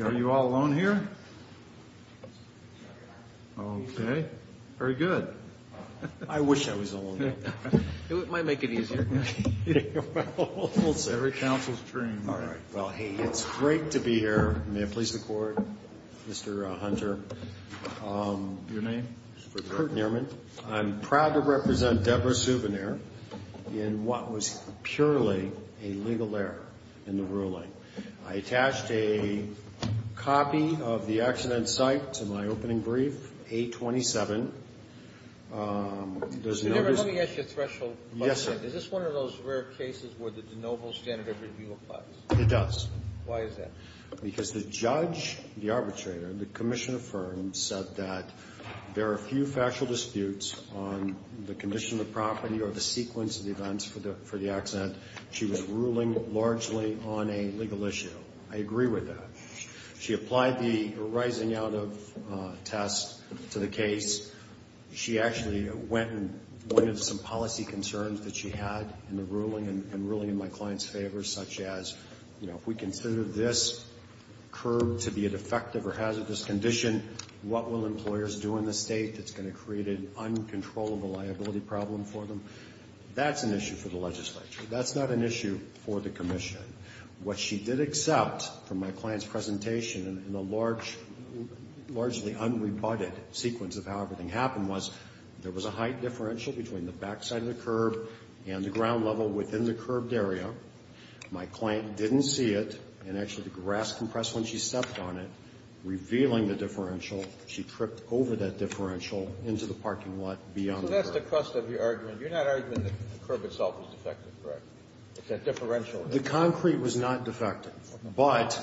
Are you all alone here? Okay. Very good. I wish I was alone. It might make it easier. I'm sorry. Every counsel's dream. All right. Well, hey, it's great to be here. May I please record, Mr. Hunter? Your name? Kurt Nehrman. I'm proud to represent Deborah Souvenir in what was purely a legal error in the ruling. I attached a copy of the accident site to my opening brief, 827. Ms. Souvenir, let me ask you a threshold question. Yes, sir. Is this one of those rare cases where the de novo standard of review applies? It does. Why is that? Because the judge, the arbitrator, the commission affirmed, said that there are few factual disputes on the condition of the property or the sequence of the events for the accident. She was ruling largely on a legal issue. I agree with that. She applied the rising out of test to the case. She actually went and pointed some policy concerns that she had in the ruling and ruling in my client's favor, such as, you know, if we consider this curb to be a defective or hazardous condition, what will employers do in this state that's going to create an uncontrollable liability problem for them? That's an issue for the legislature. That's not an issue for the commission. What she did accept from my client's presentation in a large, largely unrebutted sequence of how everything happened was there was a height differential between the backside of the curb and the ground level within the curbed area. My client didn't see it, and actually the grass compressed when she stepped on it, revealing the differential. She tripped over that differential into the parking lot beyond the curb. So that's the crust of your argument. You're not arguing that the curb itself is defective, correct? It's that differential. The concrete was not defective. But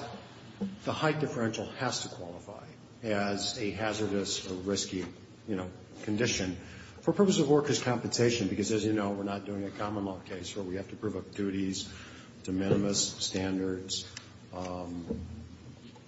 the height differential has to qualify as a hazardous or risky, you know, condition. For purposes of workers' compensation, because as you know, we're not doing a common law case where we have to provoke duties, de minimis, standards,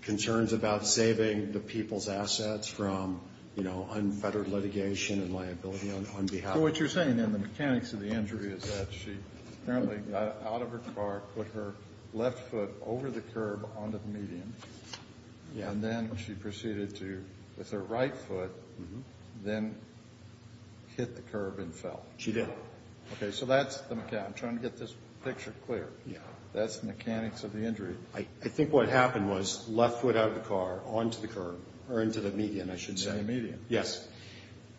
concerns about saving the people's assets from, you know, unfettered litigation and liability on behalf of the workers. So what you're saying in the mechanics of the injury is that she apparently got out of her car, put her left foot over the curb onto the median. And then she proceeded to, with her right foot, then hit the curb and fell. She did. Okay. So that's the mechanics. I'm trying to get this picture clear. Yeah. That's the mechanics of the injury. I think what happened was left foot out of the car onto the curb or into the median, I should say. Into the median. Yes.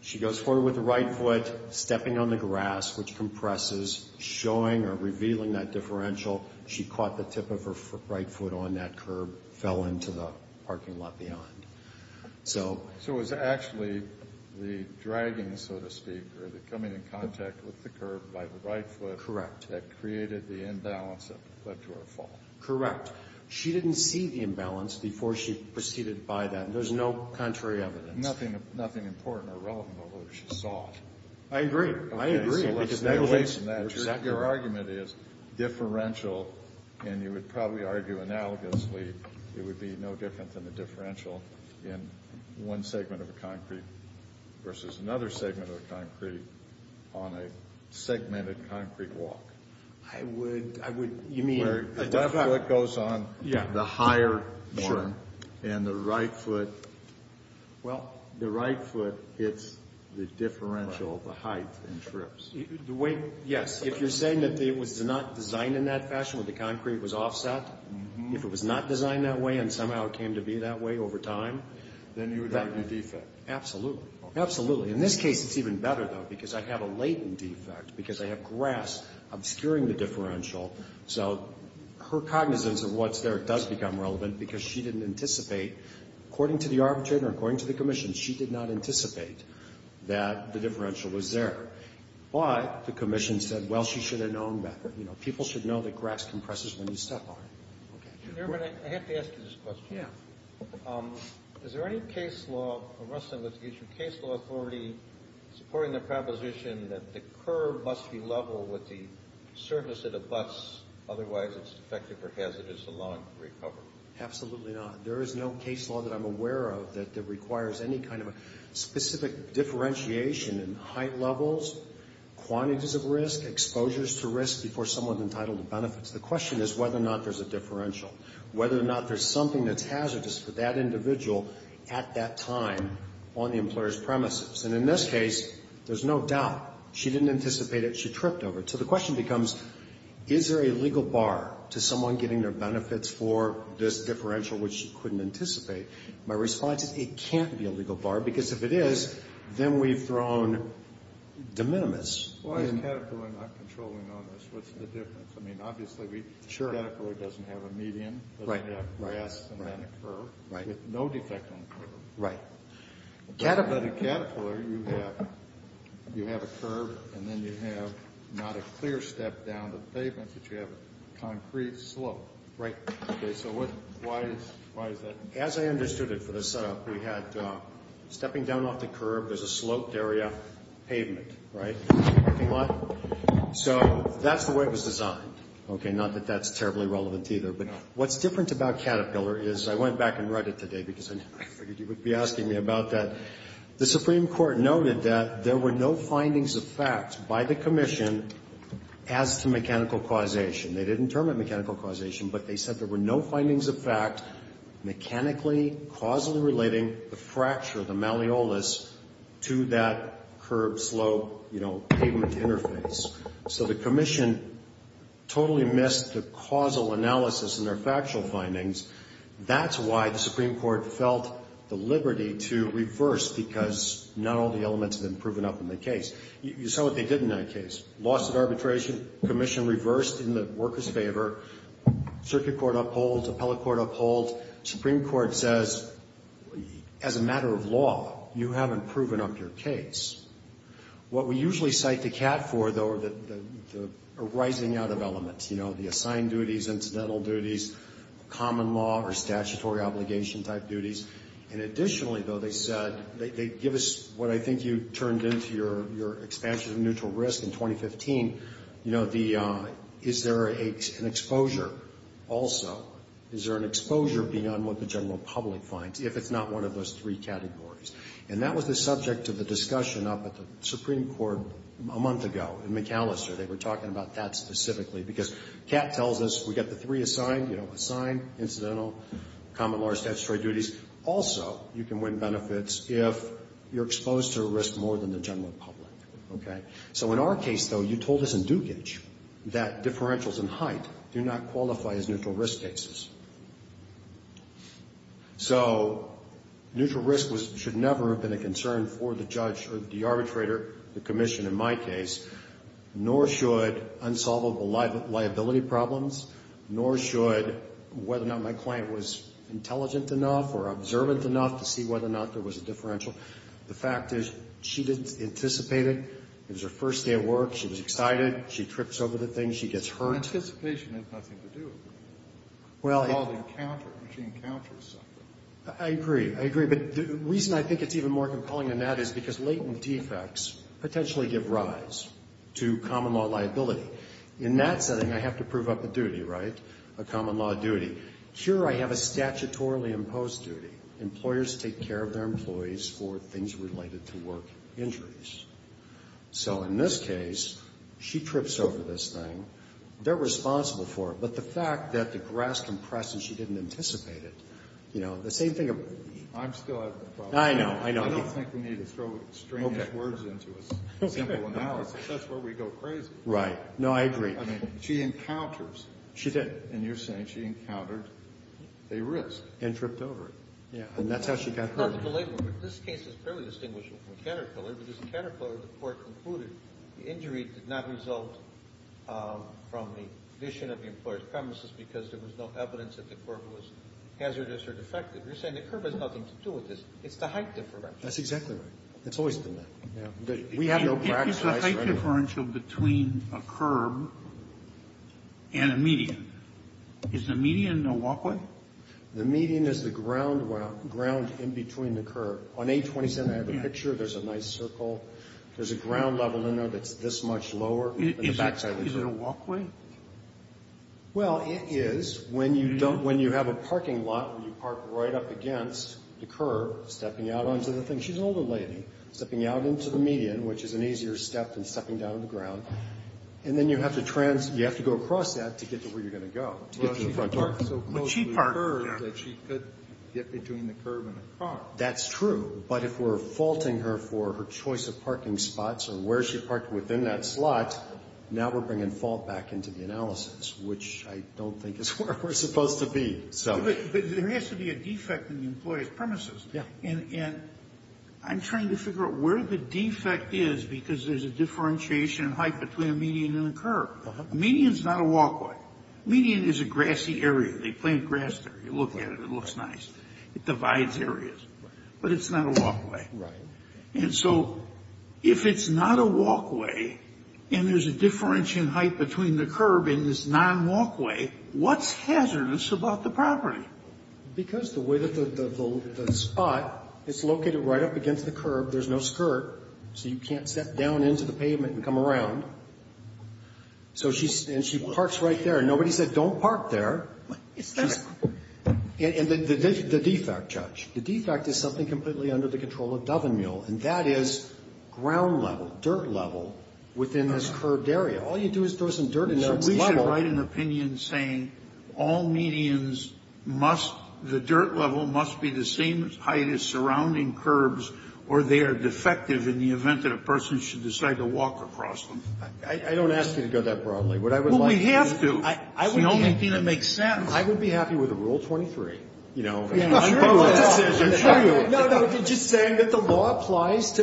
She goes forward with her right foot, stepping on the grass, which compresses, showing or revealing that differential. She caught the tip of her right foot on that curb, fell into the parking lot beyond. So it was actually the dragging, so to speak, or the coming in contact with the curb by the right foot. Correct. That created the imbalance that led to her fall. Correct. She didn't see the imbalance before she proceeded by that. There's no contrary evidence. Nothing important or relevant, although she saw it. I agree. I agree. Your argument is differential. And you would probably argue analogously it would be no different than a differential in one segment of a concrete versus another segment of a concrete on a segmented concrete walk. I would, I would, you mean. Where the left foot goes on the higher one. Sure. And the right foot. Well. The right foot hits the differential, the height, and trips. The weight, yes. If you're saying that it was not designed in that fashion where the concrete was offset, if it was not designed that way and somehow it came to be that way over time. Then you would argue defect. Absolutely. Absolutely. In this case, it's even better, though, because I have a latent defect because I have grass obscuring the differential. So her cognizance of what's there does become relevant because she didn't anticipate, according to the arbitrator, according to the commission, she did not anticipate that the differential was there. But the commission said, well, she should have known better. You know, people should know that grass compresses when you step on it. Okay. Chairman, I have to ask you this question. Yeah. Is there any case law or wrestling with the issue, case law authority supporting the proposition that the curb must be level with the surface of the bus, otherwise it's defective or hazardous allowing recovery? Absolutely not. There is no case law that I'm aware of that requires any kind of a specific differentiation in height levels, quantities of risk, exposures to risk before someone's entitled to benefits. The question is whether or not there's a differential, whether or not there's something that's hazardous for that individual at that time on the employer's premises. And in this case, there's no doubt. She didn't anticipate it. She tripped over it. So the question becomes, is there a legal bar to someone getting their benefits for this differential which she couldn't anticipate? My response is it can't be a legal bar because if it is, then we've thrown de minimis. Why is Caterpillar not controlling on this? What's the difference? I mean, obviously Caterpillar doesn't have a median. It doesn't have grass and then a curb with no defect on the curb. Right. But at Caterpillar, you have a curb and then you have not a clear step down to the pavement, but you have a concrete slope. Right. Okay. So why is that? As I understood it for the setup, we had stepping down off the curb, there's a sloped area pavement. Right. So that's the way it was designed. Okay. Not that that's terribly relevant either. But what's different about Caterpillar is I went back and read it today because I figured you would be asking me about that. The Supreme Court noted that there were no findings of fact by the commission as to mechanical causation. They didn't determine mechanical causation, but they said there were no findings of fact mechanically, causally relating the fracture, the malleolus, to that curb slope, you know, pavement interface. So the commission totally missed the causal analysis in their factual findings. That's why the Supreme Court felt the liberty to reverse because not all the elements had been proven up in the case. You saw what they did in that case. Lawsuit arbitration commission reversed in the workers' favor. Circuit court upholds. Appellate court upholds. Supreme Court says, as a matter of law, you haven't proven up your case. What we usually cite the cat for, though, are the arising out of elements, you know, the assigned duties, incidental duties, common law or statutory obligation type duties. And additionally, though, they said they give us what I think you turned into your expansion of neutral risk in 2015. You know, is there an exposure also? Is there an exposure beyond what the general public finds if it's not one of those three categories? And that was the subject of the discussion up at the Supreme Court a month ago in McAllister. They were talking about that specifically because cat tells us we've got the three assigned, you know, assigned, incidental, common law or statutory duties. Also, you can win benefits if you're exposed to a risk more than the general public. Okay? So in our case, though, you told us in Dukic that differentials in height do not qualify as neutral risk cases. So neutral risk should never have been a concern for the judge or the arbitrator, the commission in my case, nor should unsolvable liability problems, nor should whether or not my client was intelligent enough or observant enough to see whether or not there was a differential. The fact is she didn't anticipate it. It was her first day at work. She was excited. She trips over the thing. She gets hurt. Anticipation has nothing to do with it. Well, I agree. I agree. I agree. But the reason I think it's even more compelling than that is because latent defects potentially give rise to common law liability. In that setting, I have to prove up a duty, right, a common law duty. Here I have a statutorily imposed duty. Employers take care of their employees for things related to work injuries. So in this case, she trips over this thing. They're responsible for it. But the fact that the grass compresses, she didn't anticipate it, you know, the same thing. I'm still having a problem. I know. I know. I don't think we need to throw strange words into a simple analysis. That's where we go crazy. Right. No, I agree. I mean, she encounters. She did. And you're saying she encountered a risk. And tripped over it. Yeah. And that's how she got hurt. This case is fairly distinguishable from the counter-killer because the counter-killer, the court concluded, the injury did not result from the condition of the employer's premises because there was no evidence that the curb was hazardous or defective. You're saying the curb has nothing to do with this. It's the height differential. That's exactly right. It's always been that. Yeah. We have no practice. It's the height differential between a curb and a median. Is the median a walkway? The median is the ground in between the curb. On 827, I have a picture. There's a nice circle. There's a ground level in there that's this much lower than the backside of the curb. Is it a walkway? Well, it is. When you don't, when you have a parking lot where you park right up against the curb, stepping out onto the thing. She's an older lady. Stepping out into the median, which is an easier step than stepping down the ground. And then you have to trans, you have to go across that to get to where you're going to go, to get to the front door. Well, she could park so close to the curb that she could get between the curb and the car. That's true. But if we're faulting her for her choice of parking spots or where she parked within that slot, now we're bringing fault back into the analysis, which I don't think is where we're supposed to be. But there has to be a defect in the employee's premises. Yeah. And I'm trying to figure out where the defect is because there's a differentiation in height between a median and a curb. A median is not a walkway. A median is a grassy area. They plant grass there. You look at it, it looks nice. It divides areas. But it's not a walkway. Right. And so if it's not a walkway and there's a differentiation in height between the curb and this non-walkway, what's hazardous about the property? Because the way that the spot is located right up against the curb, there's no skirt, so you can't step down into the pavement and come around. So she parks right there. Nobody said don't park there. It's not a walkway. And the defect, Judge. The defect is something completely under the control of Dovenmuehl, and that is ground level, dirt level within this curbed area. All you do is throw some dirt in that level. So we should write an opinion saying all medians must, the dirt level must be the same height as surrounding curbs or they are defective in the event that a person should decide to walk across them. I don't ask you to go that broadly. What I would like to see. Well, we have to. I would be happy. I don't think that makes sense. I would be happy with a Rule 23, you know. I'm sure you would. No, no, just saying that the law applies to,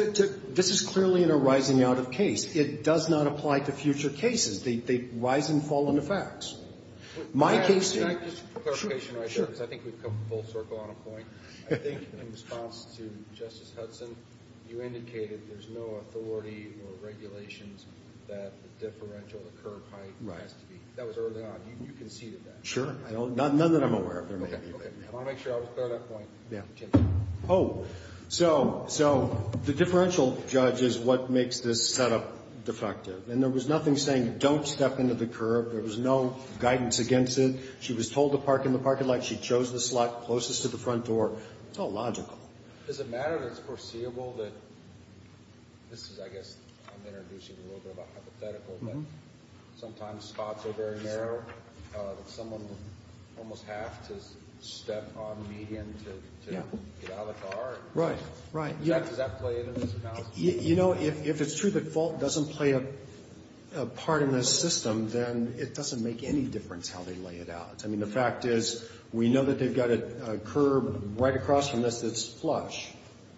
this is clearly in a rising out of case. It does not apply to future cases. They rise and fall into facts. My case. Can I just clarification right there? Because I think we've come full circle on a point. I think in response to Justice Hudson, you indicated there's no authority or regulations that the differential, the curb height has to be. That was early on. You conceded that. Sure. None that I'm aware of. Okay. I want to make sure I was clear on that point. Yeah. Oh, so the differential judge is what makes this setup defective. And there was nothing saying don't step into the curb. There was no guidance against it. She was told to park in the parking lot. She chose the slot closest to the front door. It's all logical. Does it matter that it's foreseeable that this is, I guess, I'm introducing a little bit of a hypothetical, but sometimes spots are very narrow. Someone will almost have to step on median to get out of the car. Right. Right. Does that play into this? You know, if it's true that fault doesn't play a part in this system, then it doesn't make any difference how they lay it out. I mean, the fact is we know that they've got a curb right across from this that's flush.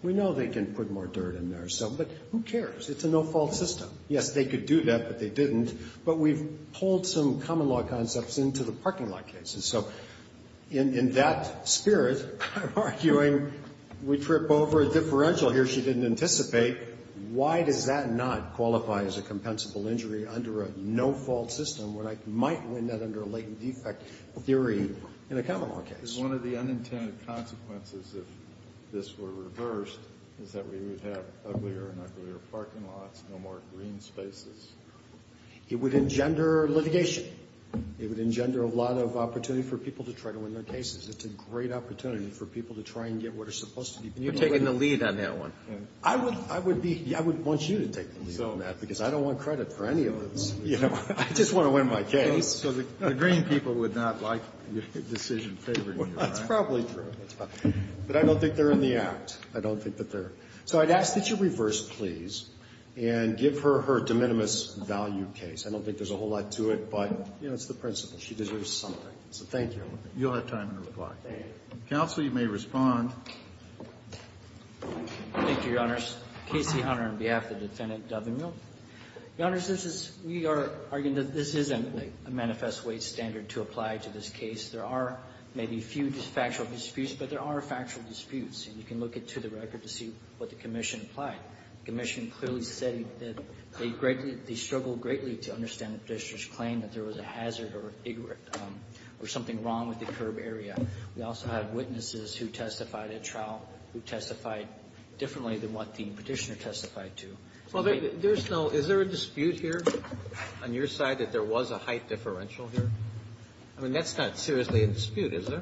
We know they can put more dirt in there. But who cares? It's a no-fault system. Yes, they could do that, but they didn't. But we've pulled some common law concepts into the parking lot cases. So in that spirit, I'm arguing we trip over a differential here she didn't anticipate. Why does that not qualify as a compensable injury under a no-fault system when I might win that under a latent defect theory in a common law case? Because one of the unintended consequences if this were reversed is that we would have uglier and uglier parking lots, no more green spaces. It would engender litigation. It would engender a lot of opportunity for people to try to win their cases. It's a great opportunity for people to try and get what are supposed to be pretty good. You're taking the lead on that one. I would be. I would want you to take the lead on that because I don't want credit for any of this. I just want to win my case. So the green people would not like your decision favoring you, right? Well, that's probably true. But I don't think they're in the act. I don't think that they're. So I'd ask that you reverse, please, and give her her de minimis value case. I don't think there's a whole lot to it, but, you know, it's the principle. She deserves something. So thank you. You'll have time to reply. Counsel, you may respond. Thank you, Your Honors. Casey Hunter on behalf of the Defendant Dovenville. Your Honors, this is we are arguing that this isn't a manifest weight standard to apply to this case. There are maybe a few factual disputes, but there are factual disputes. And you can look it to the record to see what the commission applied. The commission clearly said that they struggled greatly to understand the Petitioner's claim that there was a hazard or something wrong with the curb area. We also had witnesses who testified at trial who testified differently than what the Petitioner testified to. Well, there's no – is there a dispute here on your side that there was a height differential here? I mean, that's not seriously a dispute, is there?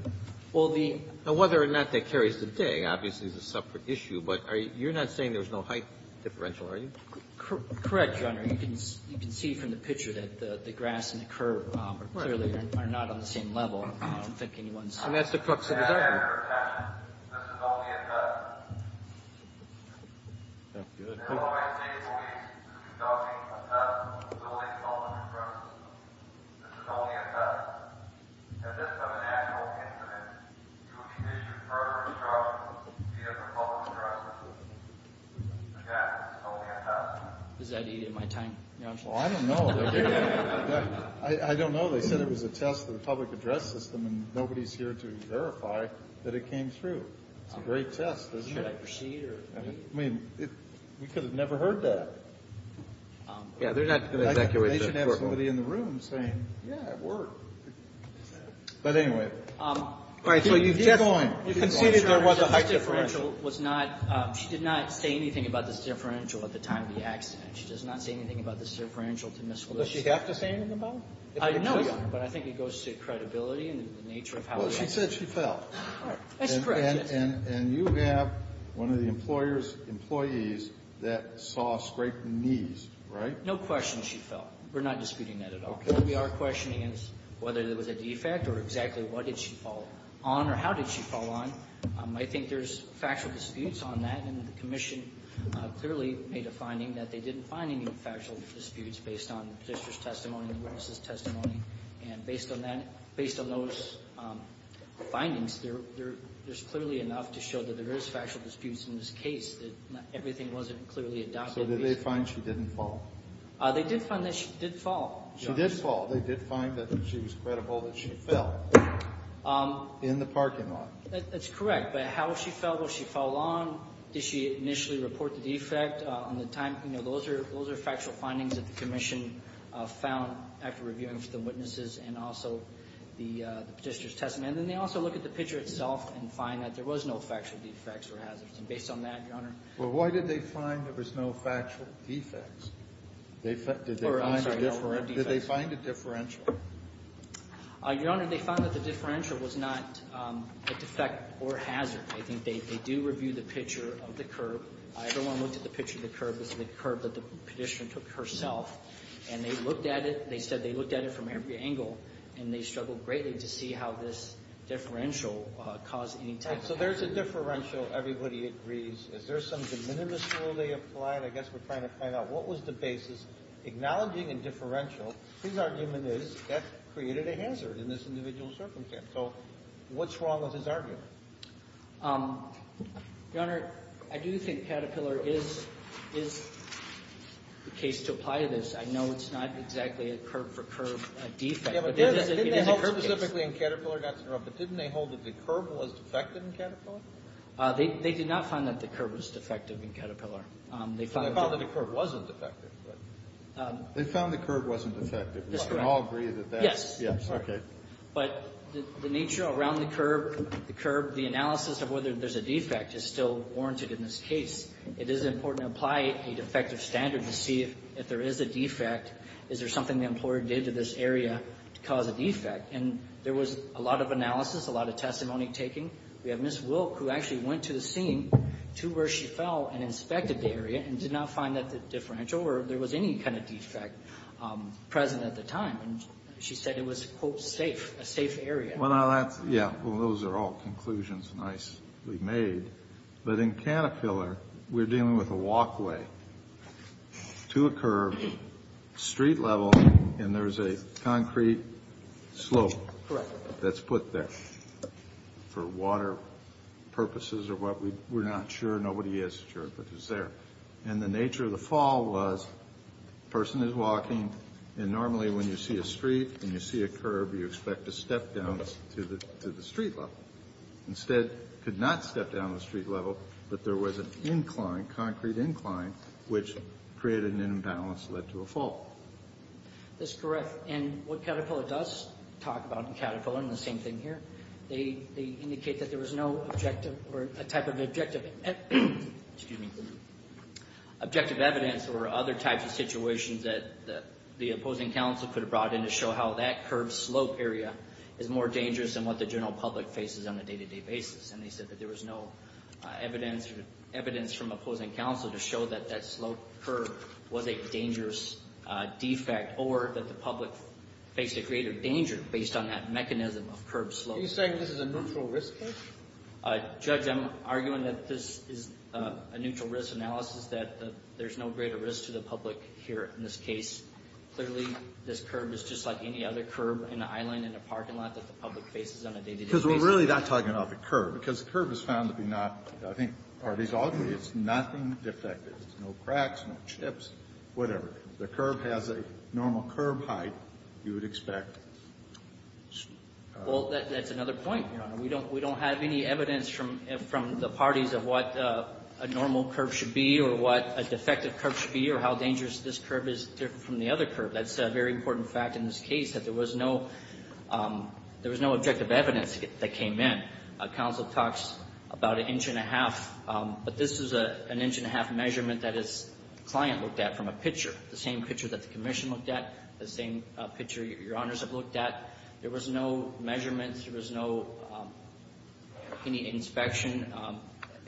Well, the – Now, whether or not that carries today, obviously, is a separate issue. But you're not saying there's no height differential, are you? Correct, Your Honor. You can see from the picture that the grass and the curb are clearly not on the same level. I don't think anyone's – And that's the crux of the matter. Your Honor, this is only a test. The Illinois State Police is conducting a test of the facility's public address system. This is only a test. At this time in actual incident, you will be issued further instructions via the public address system. Again, this is only a test. Does that eat at my time, Your Honor? Well, I don't know. I don't know. They said it was a test for the public address system, and nobody's here to verify that it came through. It's a great test, isn't it? Should I proceed or leave? I mean, we could have never heard that. Yeah, they're not going to evacuate the courtroom. They should have somebody in the room saying, yeah, it worked. But anyway. All right, so you've just – You conceded there was a height differential. This differential was not – she did not say anything about this differential at the time of the accident. She does not say anything about this differential to Ms. Willis. Does she have to say anything about it? I know, Your Honor, but I think it goes to credibility and the nature of how – Well, she said she fell. That's correct. And you have one of the employer's employees that saw a scrape in the knees, right? No question she fell. We're not disputing that at all. What we are questioning is whether there was a defect or exactly what did she fall on or how did she fall on. I think there's factual disputes on that. And the Commission clearly made a finding that they didn't find any factual disputes based on the petitioner's testimony and the witness's testimony. And based on that – based on those findings, there's clearly enough to show that there is factual disputes in this case, that everything wasn't clearly adopted. So did they find she didn't fall? They did find that she did fall. She did fall. They did find that she was credible that she fell in the parking lot. That's correct. But how she fell, did she fall on? Did she initially report the defect on the time? You know, those are factual findings that the Commission found after reviewing for the witnesses and also the petitioner's testimony. And then they also look at the picture itself and find that there was no factual defects or hazards. And based on that, Your Honor – Well, why did they find there was no factual defects? Or, I'm sorry, no defects. Did they find a differential? Your Honor, they found that the differential was not a defect or hazard. I think they do review the picture of the curb. Everyone looked at the picture of the curb. It was the curb that the petitioner took herself. And they looked at it. They said they looked at it from every angle. And they struggled greatly to see how this differential caused any type of hazard. So there's a differential. Everybody agrees. Is there some de minimis rule they applied? I guess we're trying to find out what was the basis. Acknowledging a differential, his argument is that created a hazard in this individual circumstance. So what's wrong with his argument? Your Honor, I do think Caterpillar is the case to apply this. I know it's not exactly a curb-for-curb defect, but it is a curb case. Didn't they hold specifically in Caterpillar, not to interrupt, but didn't they hold that the curb was defective in Caterpillar? They did not find that the curb was defective in Caterpillar. They found that the curb wasn't defective. They found the curb wasn't defective. We can all agree that that's the case. Yes. But the nature around the curb, the analysis of whether there's a defect is still warranted in this case. It is important to apply a defective standard to see if there is a defect. Is there something the employer did to this area to cause a defect? And there was a lot of analysis, a lot of testimony taking. We have Ms. Wilk, who actually went to the scene to where she fell and inspected the area and did not find that the differential or there was any kind of defect present at the time. And she said it was, quote, safe, a safe area. Yeah. Well, those are all conclusions nicely made. But in Caterpillar, we're dealing with a walkway to a curb, street level, and there's a concrete slope. Correct. That's put there for water purposes or what. We're not sure. Nobody is sure, but it's there. And the nature of the fall was a person is walking, and normally when you see a street and you see a curb, you expect to step down to the street level. Instead, could not step down to the street level, but there was an incline, concrete incline, which created an imbalance that led to a fall. That's correct. And what Caterpillar does talk about in Caterpillar, and the same thing here, they indicate that there was no objective or a type of objective, excuse me, objective evidence or other types of situations that the opposing counsel could have brought in to show how that curb slope area is more dangerous than what the general public faces on a day-to-day basis. And they said that there was no evidence from opposing counsel to show that that slope curb was a dangerous defect or that the public faced a greater danger based on that mechanism of curb slope. Are you saying this is a neutral risk case? Judge, I'm arguing that this is a neutral risk analysis, that there's no greater risk to the public here in this case. Clearly, this curb is just like any other curb in an island in a parking lot that the public faces on a day-to-day basis. Because we're really not talking about the curb, because the curb is found to be not, I think, or at least ultimately it's nothing defective. There's no cracks, no chips, whatever. The curb has a normal curb height you would expect. Well, that's another point, Your Honor. We don't have any evidence from the parties of what a normal curb should be or what a defective curb should be or how dangerous this curb is from the other curb. That's a very important fact in this case, that there was no objective evidence that came in. Counsel talks about an inch and a half, but this is an inch and a half measurement that his client looked at from a picture, the same picture that the Commission looked at, the same picture Your Honors have looked at. There was no measurements. There was no any inspection,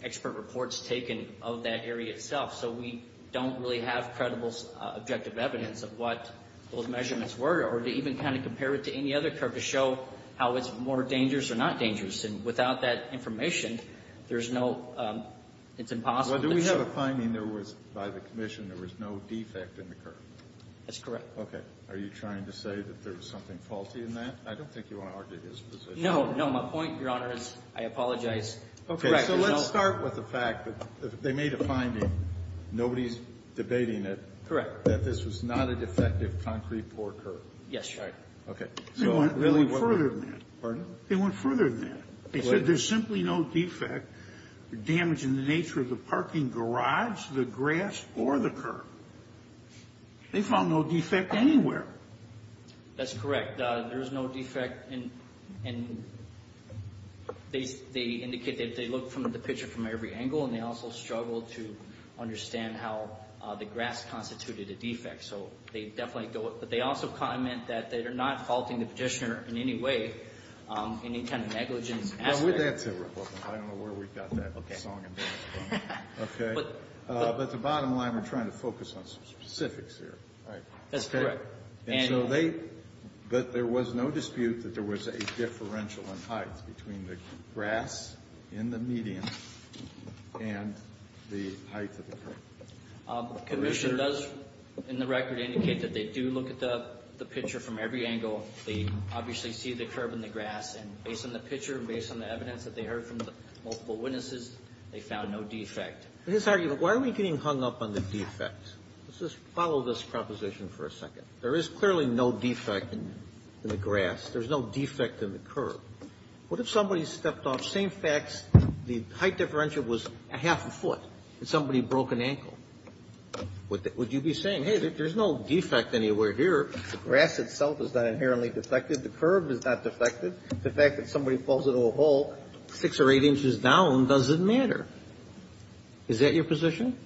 expert reports taken of that area itself. So we don't really have credible objective evidence of what those measurements were or to even kind of compare it to any other curb to show how it's more dangerous or not dangerous. And without that information, there's no, it's impossible to show. Well, do we have a finding there was, by the Commission, there was no defect in the curb? That's correct. Okay. Are you trying to say that there was something faulty in that? I don't think you want to argue his position. No. No. My point, Your Honor, is I apologize. Okay. So let's start with the fact that they made a finding. Nobody's debating it. Correct. That this was not a defective concrete floor curb. Yes, Your Honor. Okay. They went further than that. Pardon? They went further than that. They said there's simply no defect. The damage in the nature of the parking garage, the grass, or the curb. They found no defect anywhere. That's correct. There's no defect. And they indicate that they looked at the picture from every angle, and they also struggled to understand how the grass constituted a defect. So they definitely go with it. But they also comment that they are not faulting the Petitioner in any way, any kind of negligence aspect. That's irrelevant. I don't know where we got that song and dance from. Okay. But the bottom line, we're trying to focus on some specifics here, right? That's correct. And so they, there was no dispute that there was a differential in height between the grass in the medium and the height of the curb. The Petitioner does, in the record, indicate that they do look at the picture from every angle. They obviously see the curb and the grass, and based on the picture and based on the evidence that they heard from the multiple witnesses, they found no defect. In this argument, why are we getting hung up on the defect? Let's just follow this proposition for a second. There is clearly no defect in the grass. There's no defect in the curb. What if somebody stepped off, same facts, the height differential was a half a foot and somebody broke an ankle? Would you be saying, hey, there's no defect anywhere here. The grass itself is not inherently defective. The curb is not defective. The fact that somebody falls into a hole six or eight inches down doesn't matter. Is that your position?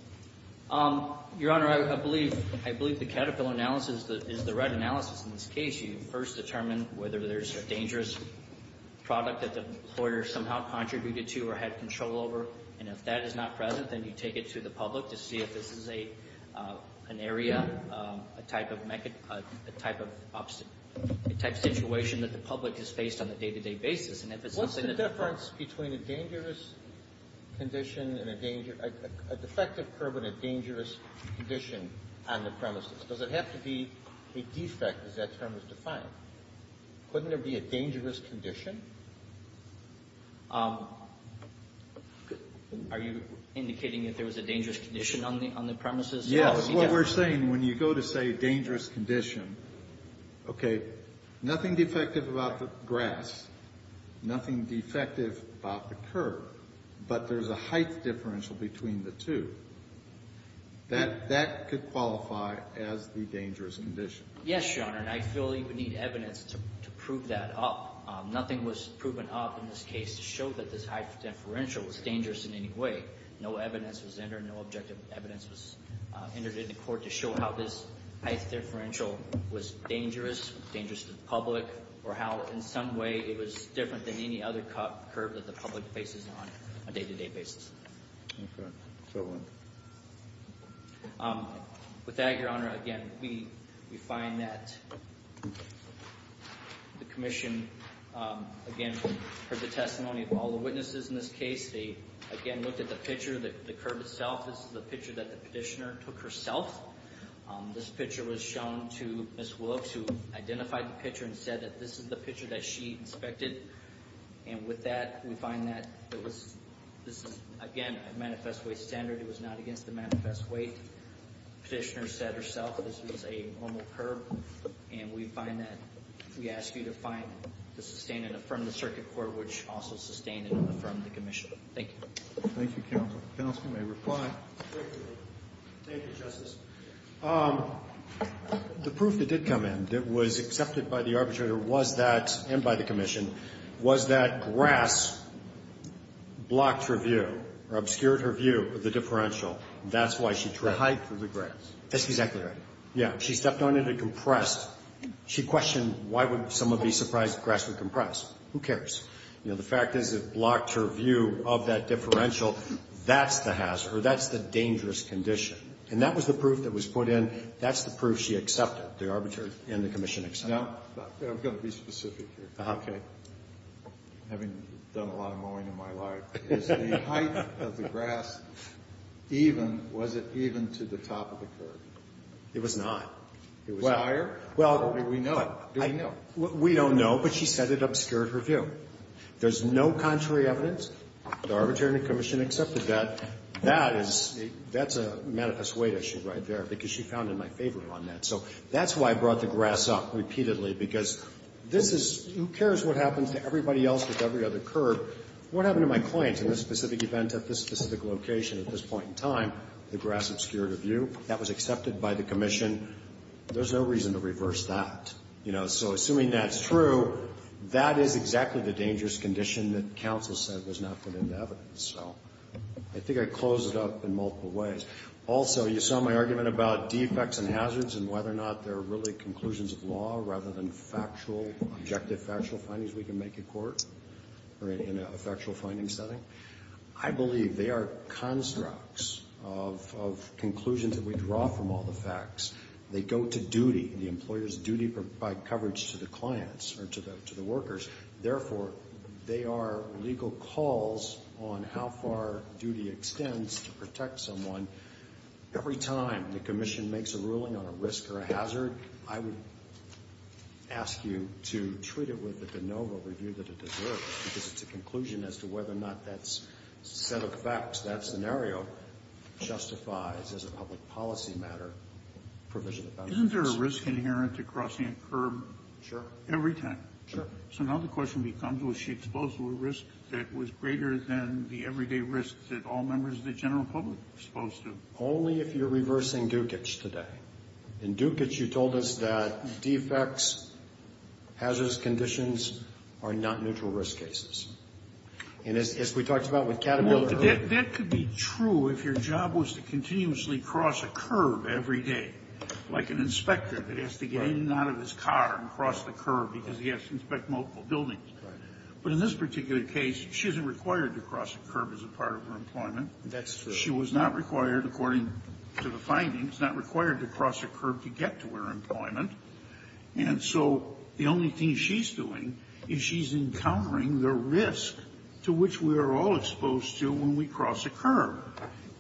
Your Honor, I believe the Caterpillar analysis is the right analysis in this case. You first determine whether there's a dangerous product that the employer somehow contributed to or had control over, and if that is not present, then you take it to the public to see if this is an area, a type of situation that the public is faced on a day-to-day basis. What's the difference between a defective curb and a dangerous condition on the premises? Does it have to be a defect, as that term is defined? Couldn't there be a dangerous condition? Are you indicating that there was a dangerous condition on the premises? Yes. That's what we're saying. When you go to say dangerous condition, okay, nothing defective about the grass, nothing defective about the curb, but there's a height differential between the two. That could qualify as the dangerous condition. Yes, Your Honor, and I feel you would need evidence to prove that up. Nothing was proven up in this case to show that this height differential was dangerous in any way. No evidence was entered. No objective evidence was entered into court to show how this height differential was dangerous, dangerous to the public, or how in some way it was different than any other curb that the public faces on a day-to-day basis. Okay, so what? With that, Your Honor, again, we find that the commission, again, heard the testimony of all the witnesses in this case. They, again, looked at the picture, the curb itself. This is the picture that the petitioner took herself. This picture was shown to Ms. Wilkes, who identified the picture and said that this is the picture that she inspected, and with that, we find that this is, again, a manifest way standard. It was not against the manifest weight. The petitioner said herself that this was a normal curb, and we find that we ask you to find, to sustain and affirm the circuit court, which also sustained and affirmed the commission. Thank you. Thank you, counsel. Counsel may reply. Thank you, Justice. The proof that did come in that was accepted by the arbitrator was that, and by the commission, was that grass blocked her view or obscured her view of the differential. That's why she tried. The height of the grass. That's exactly right. Yeah. She stepped on it and compressed. She questioned why would someone be surprised grass would compress. Who cares? You know, the fact is it blocked her view of that differential. That's the hazard, or that's the dangerous condition, and that was the proof that was put in. That's the proof she accepted, the arbitrator and the commission accepted. Now, I'm going to be specific here. Okay. Having done a lot of mowing in my life, is the height of the grass even, was it even to the top of the curb? It was not. Was it higher? Do we know? Do we know? We don't know, but she said it obscured her view. There's no contrary evidence. The arbitrator and the commission accepted that. That is, that's a manifest weight issue right there, because she found it my favorite on that. So that's why I brought the grass up repeatedly, because this is, who cares what happens to everybody else with every other curb. What happened to my client in this specific event at this specific location at this point in time? The grass obscured her view. That was accepted by the commission. There's no reason to reverse that. You know, so assuming that's true, that is exactly the dangerous condition that counsel said was not put into evidence. So I think I closed it up in multiple ways. Also, you saw my argument about defects and hazards and whether or not there are really conclusions of law rather than factual, objective factual findings we can make in court or in a factual finding setting. I believe they are constructs of conclusions that we draw from all the facts. They go to duty. The employer's duty to provide coverage to the clients or to the workers. Therefore, they are legal calls on how far duty extends to protect someone. Every time the commission makes a ruling on a risk or a hazard, I would ask you to treat it with the de novo review that it deserves, because it's a conclusion as to whether or not that set of facts, that scenario justifies, as a public policy matter, provision of benefits. Isn't there a risk inherent to crossing a curb every time? Sure. So now the question becomes, was she exposed to a risk that was greater than the everyday risk that all members of the general public are exposed to? Only if you're reversing Dukic today. In Dukic, you told us that defects, hazardous conditions are not neutral risk cases. And as we talked about with Caterpillar earlier. Well, that could be true if your job was to continuously cross a curb every day, because he has to inspect multiple buildings. But in this particular case, she isn't required to cross a curb as a part of her employment. She was not required, according to the findings, not required to cross a curb to get to her employment. And so the only thing she's doing is she's encountering the risk to which we are all exposed to when we cross a curb.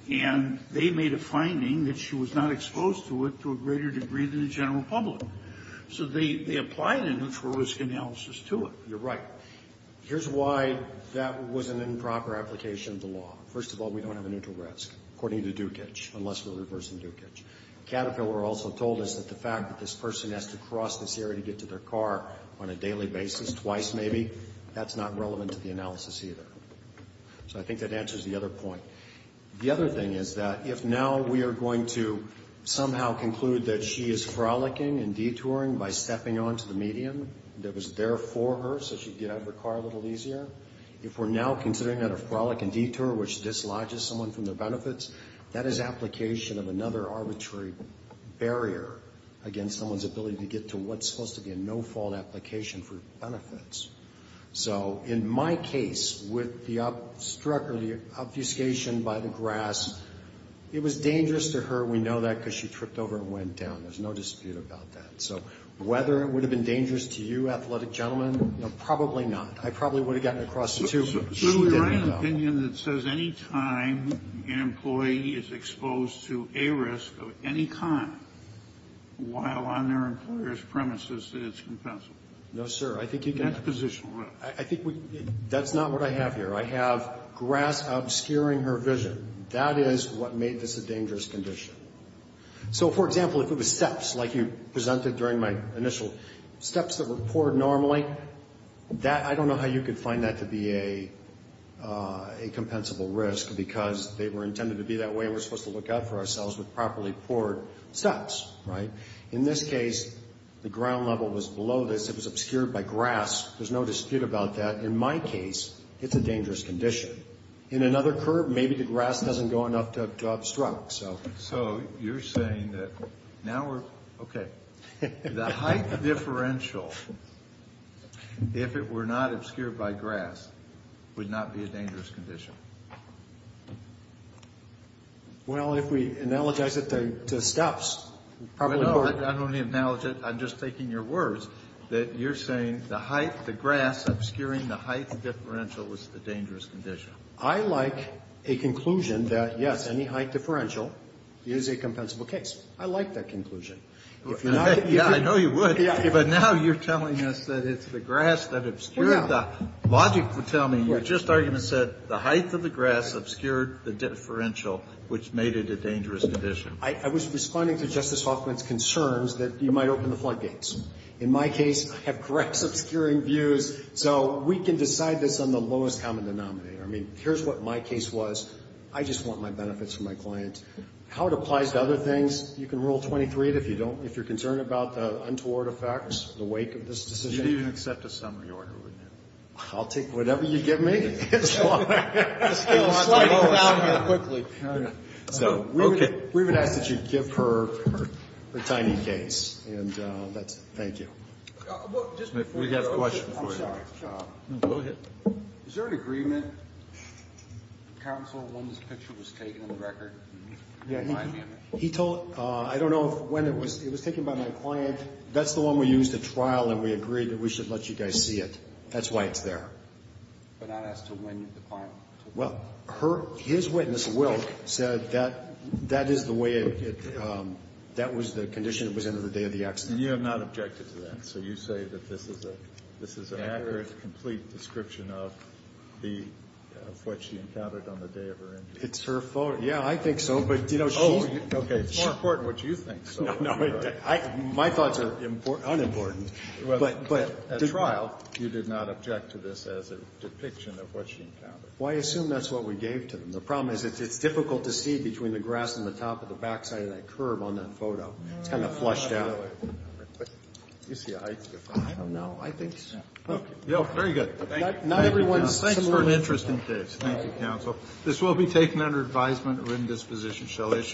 And they made a finding that she was not exposed to it to a greater degree than the general public. So they applied a neutral risk analysis to it. You're right. Here's why that was an improper application of the law. First of all, we don't have a neutral risk, according to Dukic, unless we're reversing Dukic. Caterpillar also told us that the fact that this person has to cross this area to get to their car on a daily basis, twice maybe, that's not relevant to the analysis either. So I think that answers the other point. The other thing is that if now we are going to somehow conclude that she is frolicking and detouring by stepping onto the medium that was there for her so she could get out of her car a little easier, if we're now considering that a frolic and detour, which dislodges someone from their benefits, that is application of another arbitrary barrier against someone's ability to get to what's supposed to be a no-fault application for benefits. So in my case, with the obfuscation by the grass, it was dangerous to her. We know that because she tripped over and went down. There's no dispute about that. So whether it would have been dangerous to you, athletic gentlemen, probably not. I probably would have gotten across the two. She didn't, though. It would be my opinion that says any time an employee is exposed to a risk of any kind, while on their employer's premises, that it's compensable. No, sir. I think you can have a position. I think that's not what I have here. I have grass obscuring her vision. That is what made this a dangerous condition. So, for example, if it was steps like you presented during my initial, steps that were poured normally, I don't know how you could find that to be a compensable risk because they were intended to be that way and we're supposed to look out for ourselves with properly poured steps, right? In this case, the ground level was below this. It was obscured by grass. There's no dispute about that. In my case, it's a dangerous condition. In another curve, maybe the grass doesn't go enough to obstruct. So you're saying that now we're, okay. The height differential, if it were not obscured by grass, would not be a dangerous condition. Well, if we analogize it to steps, probably more. I don't want to analogize it. I'm just taking your words that you're saying the height, the grass obscuring the height differential was the dangerous condition. I like a conclusion that, yes, any height differential is a compensable case. I like that conclusion. If not, you could. Yeah, I know you would. But now you're telling us that it's the grass that obscured the. Well, yeah. Logic would tell me. Your just argument said the height of the grass obscured the differential, which made it a dangerous condition. I was responding to Justice Hoffman's concerns that you might open the floodgates. In my case, I have grass obscuring views. So we can decide this on the lowest common denominator. I mean, here's what my case was. I just want my benefits for my client. How it applies to other things, you can rule 23 if you don't, if you're concerned about the untoward effects in the wake of this decision. You'd even accept a summary order, wouldn't you? I'll take whatever you give me. So we would ask that you give her her tiny case. And thank you. We have a question for you. I'm sorry. Go ahead. Is there an agreement, counsel, when this picture was taken in the record? He told, I don't know when it was. It was taken by my client. That's the one we used at trial, and we agreed that we should let you guys see it. That's why it's there. But not as to when the client took it. Well, her, his witness, Wilk, said that that is the way it, that was the condition it was in on the day of the accident. You have not objected to that. So you say that this is an accurate, complete description of the, of what she encountered on the day of her injury. It's her fault. Yeah, I think so. But, you know, she's. Oh, okay. It's more important what you think. No, no. My thoughts are unimportant. But at trial, you did not object to this as a depiction of what she encountered. Well, I assume that's what we gave to them. The problem is it's difficult to see between the grass and the top of the backside of that curb on that photo. It's kind of flushed out. I don't know. You see a height difference. I don't know. I think so. Okay. Very good. Thank you. Thank you, counsel. Thanks for an interesting case. Thank you, counsel. This will be taken under advisement. Written disposition shall issue.